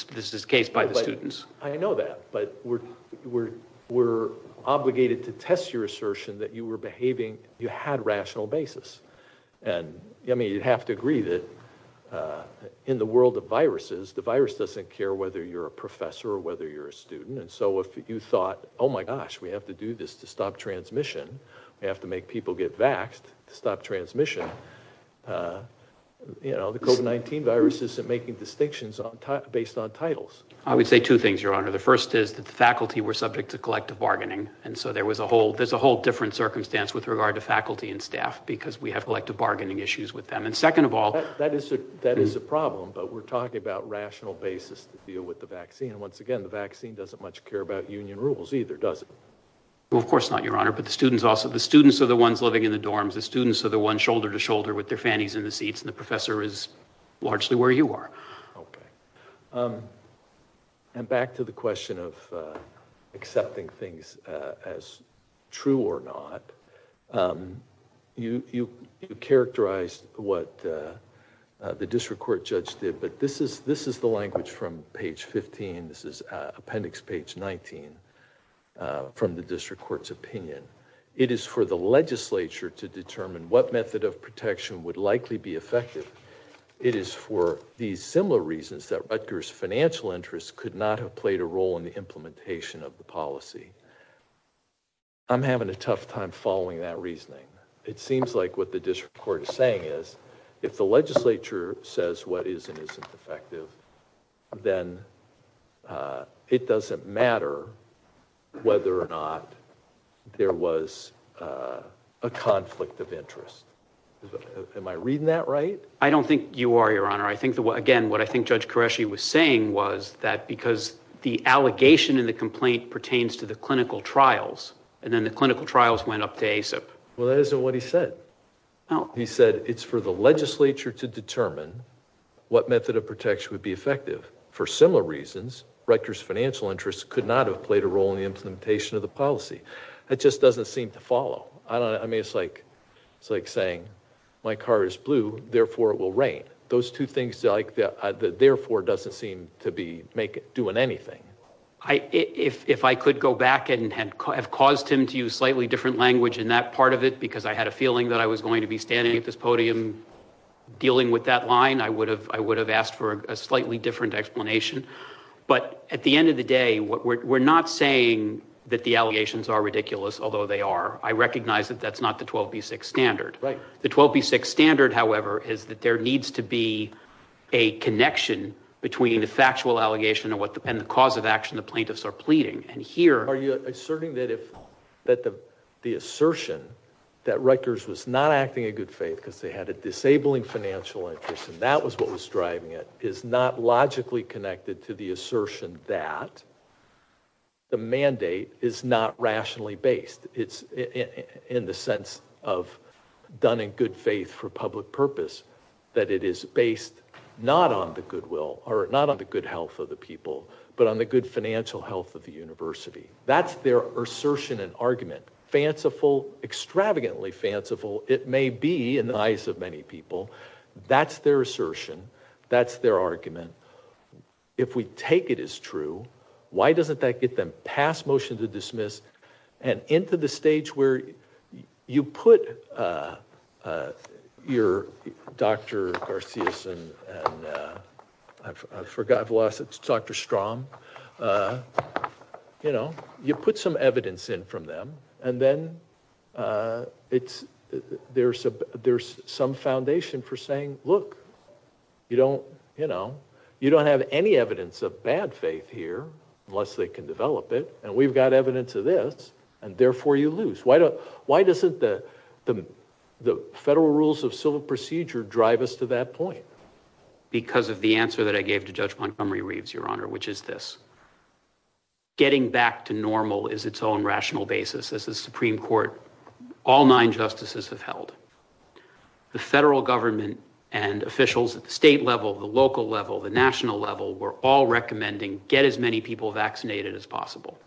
a case by the students. I know that, but we're obligated to test your assertion that you were behaving... You had rational basis. And, I mean, you'd have to agree that in the world of viruses, the virus doesn't care whether you're a professor or whether you're a student. And so if you thought, oh my gosh, we have to do this to stop transmission, we have to make people get vaxxed to stop transmission, you know, the COVID-19 virus isn't making distinctions based on titles. I would say two things, Your Honor. The first is that the faculty were subject to collective bargaining. And so there was a whole... There's a whole different circumstance with regard to faculty and staff because we have collective bargaining issues with them. And second of all... That is a problem, but we're talking about rational basis to deal with the vaccine. Once again, the vaccine doesn't much care about union rules either, does it? Well, of course not, Your Honor. But the students also... The students are the ones living in the dorms. The students are the ones shoulder to shoulder with their fannies in the seats. And the professor is largely where you are. Okay. And back to the question of accepting things as true or not. You characterized what the district court judge did, but this is the language from page 15. This is appendix page 19 from the district court's opinion. It is for the legislature to determine what method of protection would likely be effective. It is for these similar reasons that Rutgers financial interests could not have played a role in the implementation of the policy. I'm having a tough time following that reasoning. It seems like what the district court is saying is if the legislature says what is and isn't effective, then it doesn't matter whether or not there was a conflict of interest. Am I reading that right? I don't think you are, Your Honor. Again, what I think Judge Qureshi was saying was that because the allegation in the complaint pertains to the clinical trials, and then the clinical trials went up to ASIP. Well, that isn't what he said. He said it's for the legislature to determine what method of protection would be effective. For similar reasons, Rutgers financial interests could not have played a role in the implementation of the policy. That just doesn't seem to follow. I mean, it's like saying my car is blue, therefore it will rain. Those two things, therefore, doesn't seem to be doing anything. If I could go back and have caused him to use slightly different language in that part of it because I had a feeling that I was going to be standing at this podium dealing with that line, I would have asked for a slightly different explanation. But at the end of the day, we're not saying that the allegations are ridiculous, although they are. I recognize that that's not the 12B6 standard. The 12B6 standard, however, is that there needs to be a connection between the factual allegation and the cause of action the plaintiffs are pleading. Are you asserting that the assertion that Rutgers was not acting in good faith because they had a disabling financial interest and that was what was driving it is not logically connected to the assertion that the mandate is not rationally based. It's in the sense of done in good faith for public purpose, that it is based not on the goodwill or not on the good health of the people, but on the good financial health of the university. That's their assertion and argument. Fanciful, extravagantly fanciful, it may be in the eyes of many people. That's their assertion. That's their argument. If we take it as true, why doesn't that get them past motion to dismiss and into the stage where you put your Dr. Garcia and I forgot, I've lost it, Dr. Strom, you know, you put some evidence in from them and then there's some foundation for saying, look, you don't, you know, you don't have any evidence of bad faith here unless they can develop it and we've got evidence of this and therefore you lose. Why doesn't the federal rules of civil procedure drive us to that point? Because of the answer that I gave to Judge Montgomery Reeves, your honor, which is this. Getting back to normal is its own rational basis. As the Supreme Court, all nine justices have held. The federal government and officials at the state level, the local level, the national level were all recommending get as many people vaccinated as possible.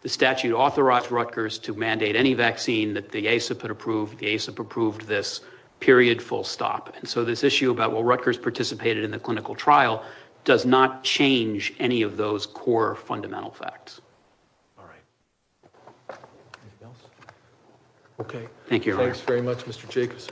The statute authorized Rutgers to mandate any vaccine that the ASIP had approved. The ASIP approved this period full stop and so this issue about what Rutgers participated in the clinical trial does not change any of those core fundamental facts. All right. Anything else? Okay. Thank you. Thanks very much, Mr Jacobs.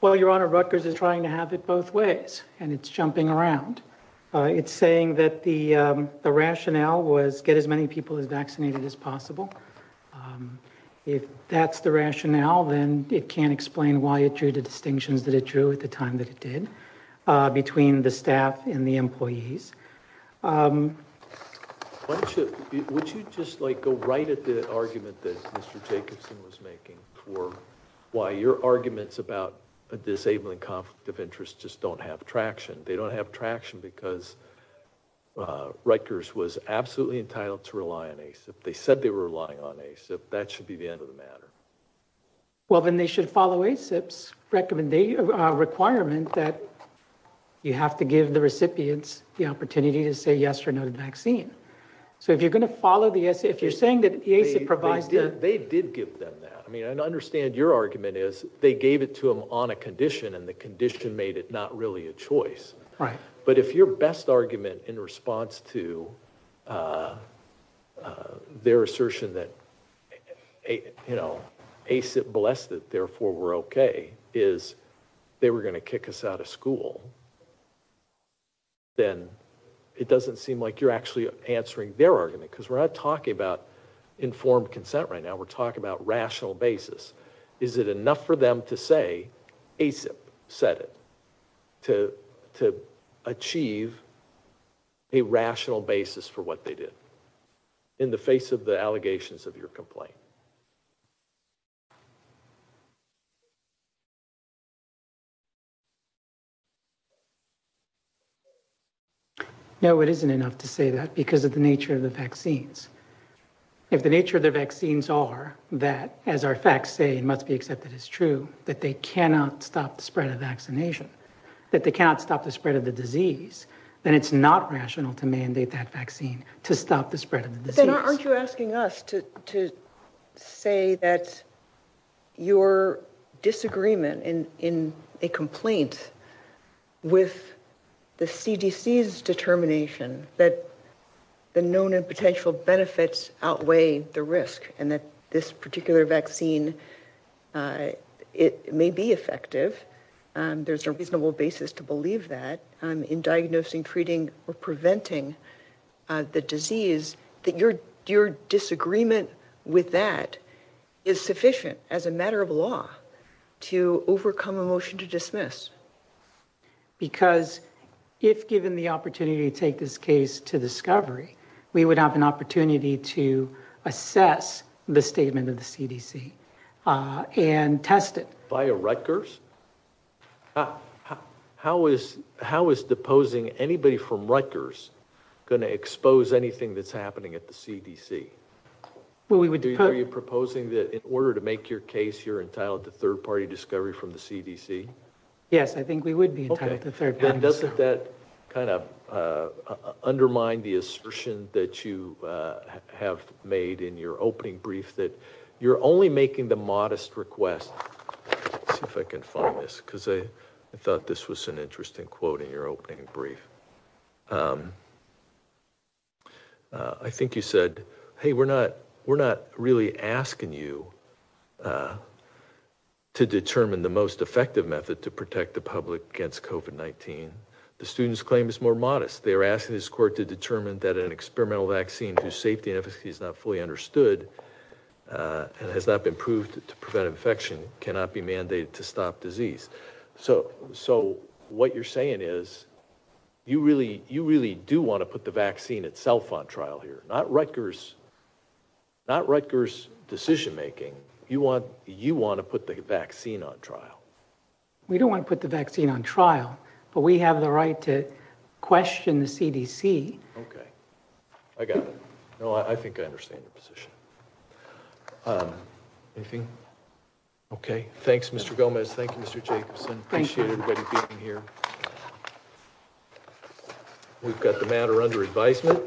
Well, your honor, Rutgers is trying to have it both ways and it's jumping around. It's saying that the rationale was get as many people as vaccinated as possible. If that's the rationale, then it can't explain why it drew the distinctions that it drew at the time that it did between the staff and the employees. Would you just like go right at the argument that Mr Jacobson was making for why your arguments about a disabling conflict of interest just don't have traction. They don't have traction because Rutgers was absolutely entitled to rely on ASIP. They said they were relying on ASIP. That should be the end of the matter. Well, then they should follow ASIP's requirement that you have to give the recipients the opportunity to say yes or no to the vaccine. So if you're going to follow the essay, if you're saying that the ASIP provides that. They did give them that. I mean, I understand your argument is they gave it to them on a condition and the condition made it not really a choice. Right. But if your best argument in response to their assertion that, you know, ASIP blessed it, therefore we're okay is they were going to kick us out of school, then it doesn't seem like you're actually answering their argument because we're not talking about informed consent right now. We're talking about rational basis. Is it enough for say ASIP said it to to achieve a rational basis for what they did in the face of the allegations of your complaint? No, it isn't enough to say that because of the nature of the vaccines. If the nature of the vaccines are that, as our facts say, it must be accepted as true, that they cannot stop the spread of vaccination, that they cannot stop the spread of the disease, then it's not rational to mandate that vaccine to stop the spread of the disease. Aren't you asking us to to say that your disagreement in in a complaint with the CDC's determination that the known and potential benefits outweigh the risk and that this particular vaccine, it may be effective, there's a reasonable basis to believe that in diagnosing, treating, or preventing the disease, that your your disagreement with that is sufficient as a matter of law to overcome a motion to dismiss? Because if given the opportunity to take this case to discovery, we would have an opportunity to assess the statement of the CDC and test it. Via Rutgers? How is how is deposing anybody from Rutgers going to expose anything that's in order to make your case you're entitled to third-party discovery from the CDC? Yes, I think we would be entitled to third. But doesn't that kind of undermine the assertion that you have made in your opening brief that you're only making the modest request? Let's see if I can find this because I thought this was an interesting quote in your opening brief. Um, I think you said, hey, we're not we're not really asking you to determine the most effective method to protect the public against COVID-19. The student's claim is more modest. They are asking this court to determine that an experimental vaccine whose safety and efficacy is not fully understood and has not been proved to prevent infection cannot be mandated to stop disease. So, so what you're saying is you really, you really do want to put the vaccine itself on trial here, not Rutgers, not Rutgers decision-making. You want, you want to put the vaccine on trial. We don't want to put the vaccine on trial, but we have the right to question the CDC. Okay, I got it. No, I think I understand your position. Um, anything? Okay. Thanks, Mr. Gomez. Thank you, Mr. Jacobson. Appreciate everybody being here. We've got the matter under advisement.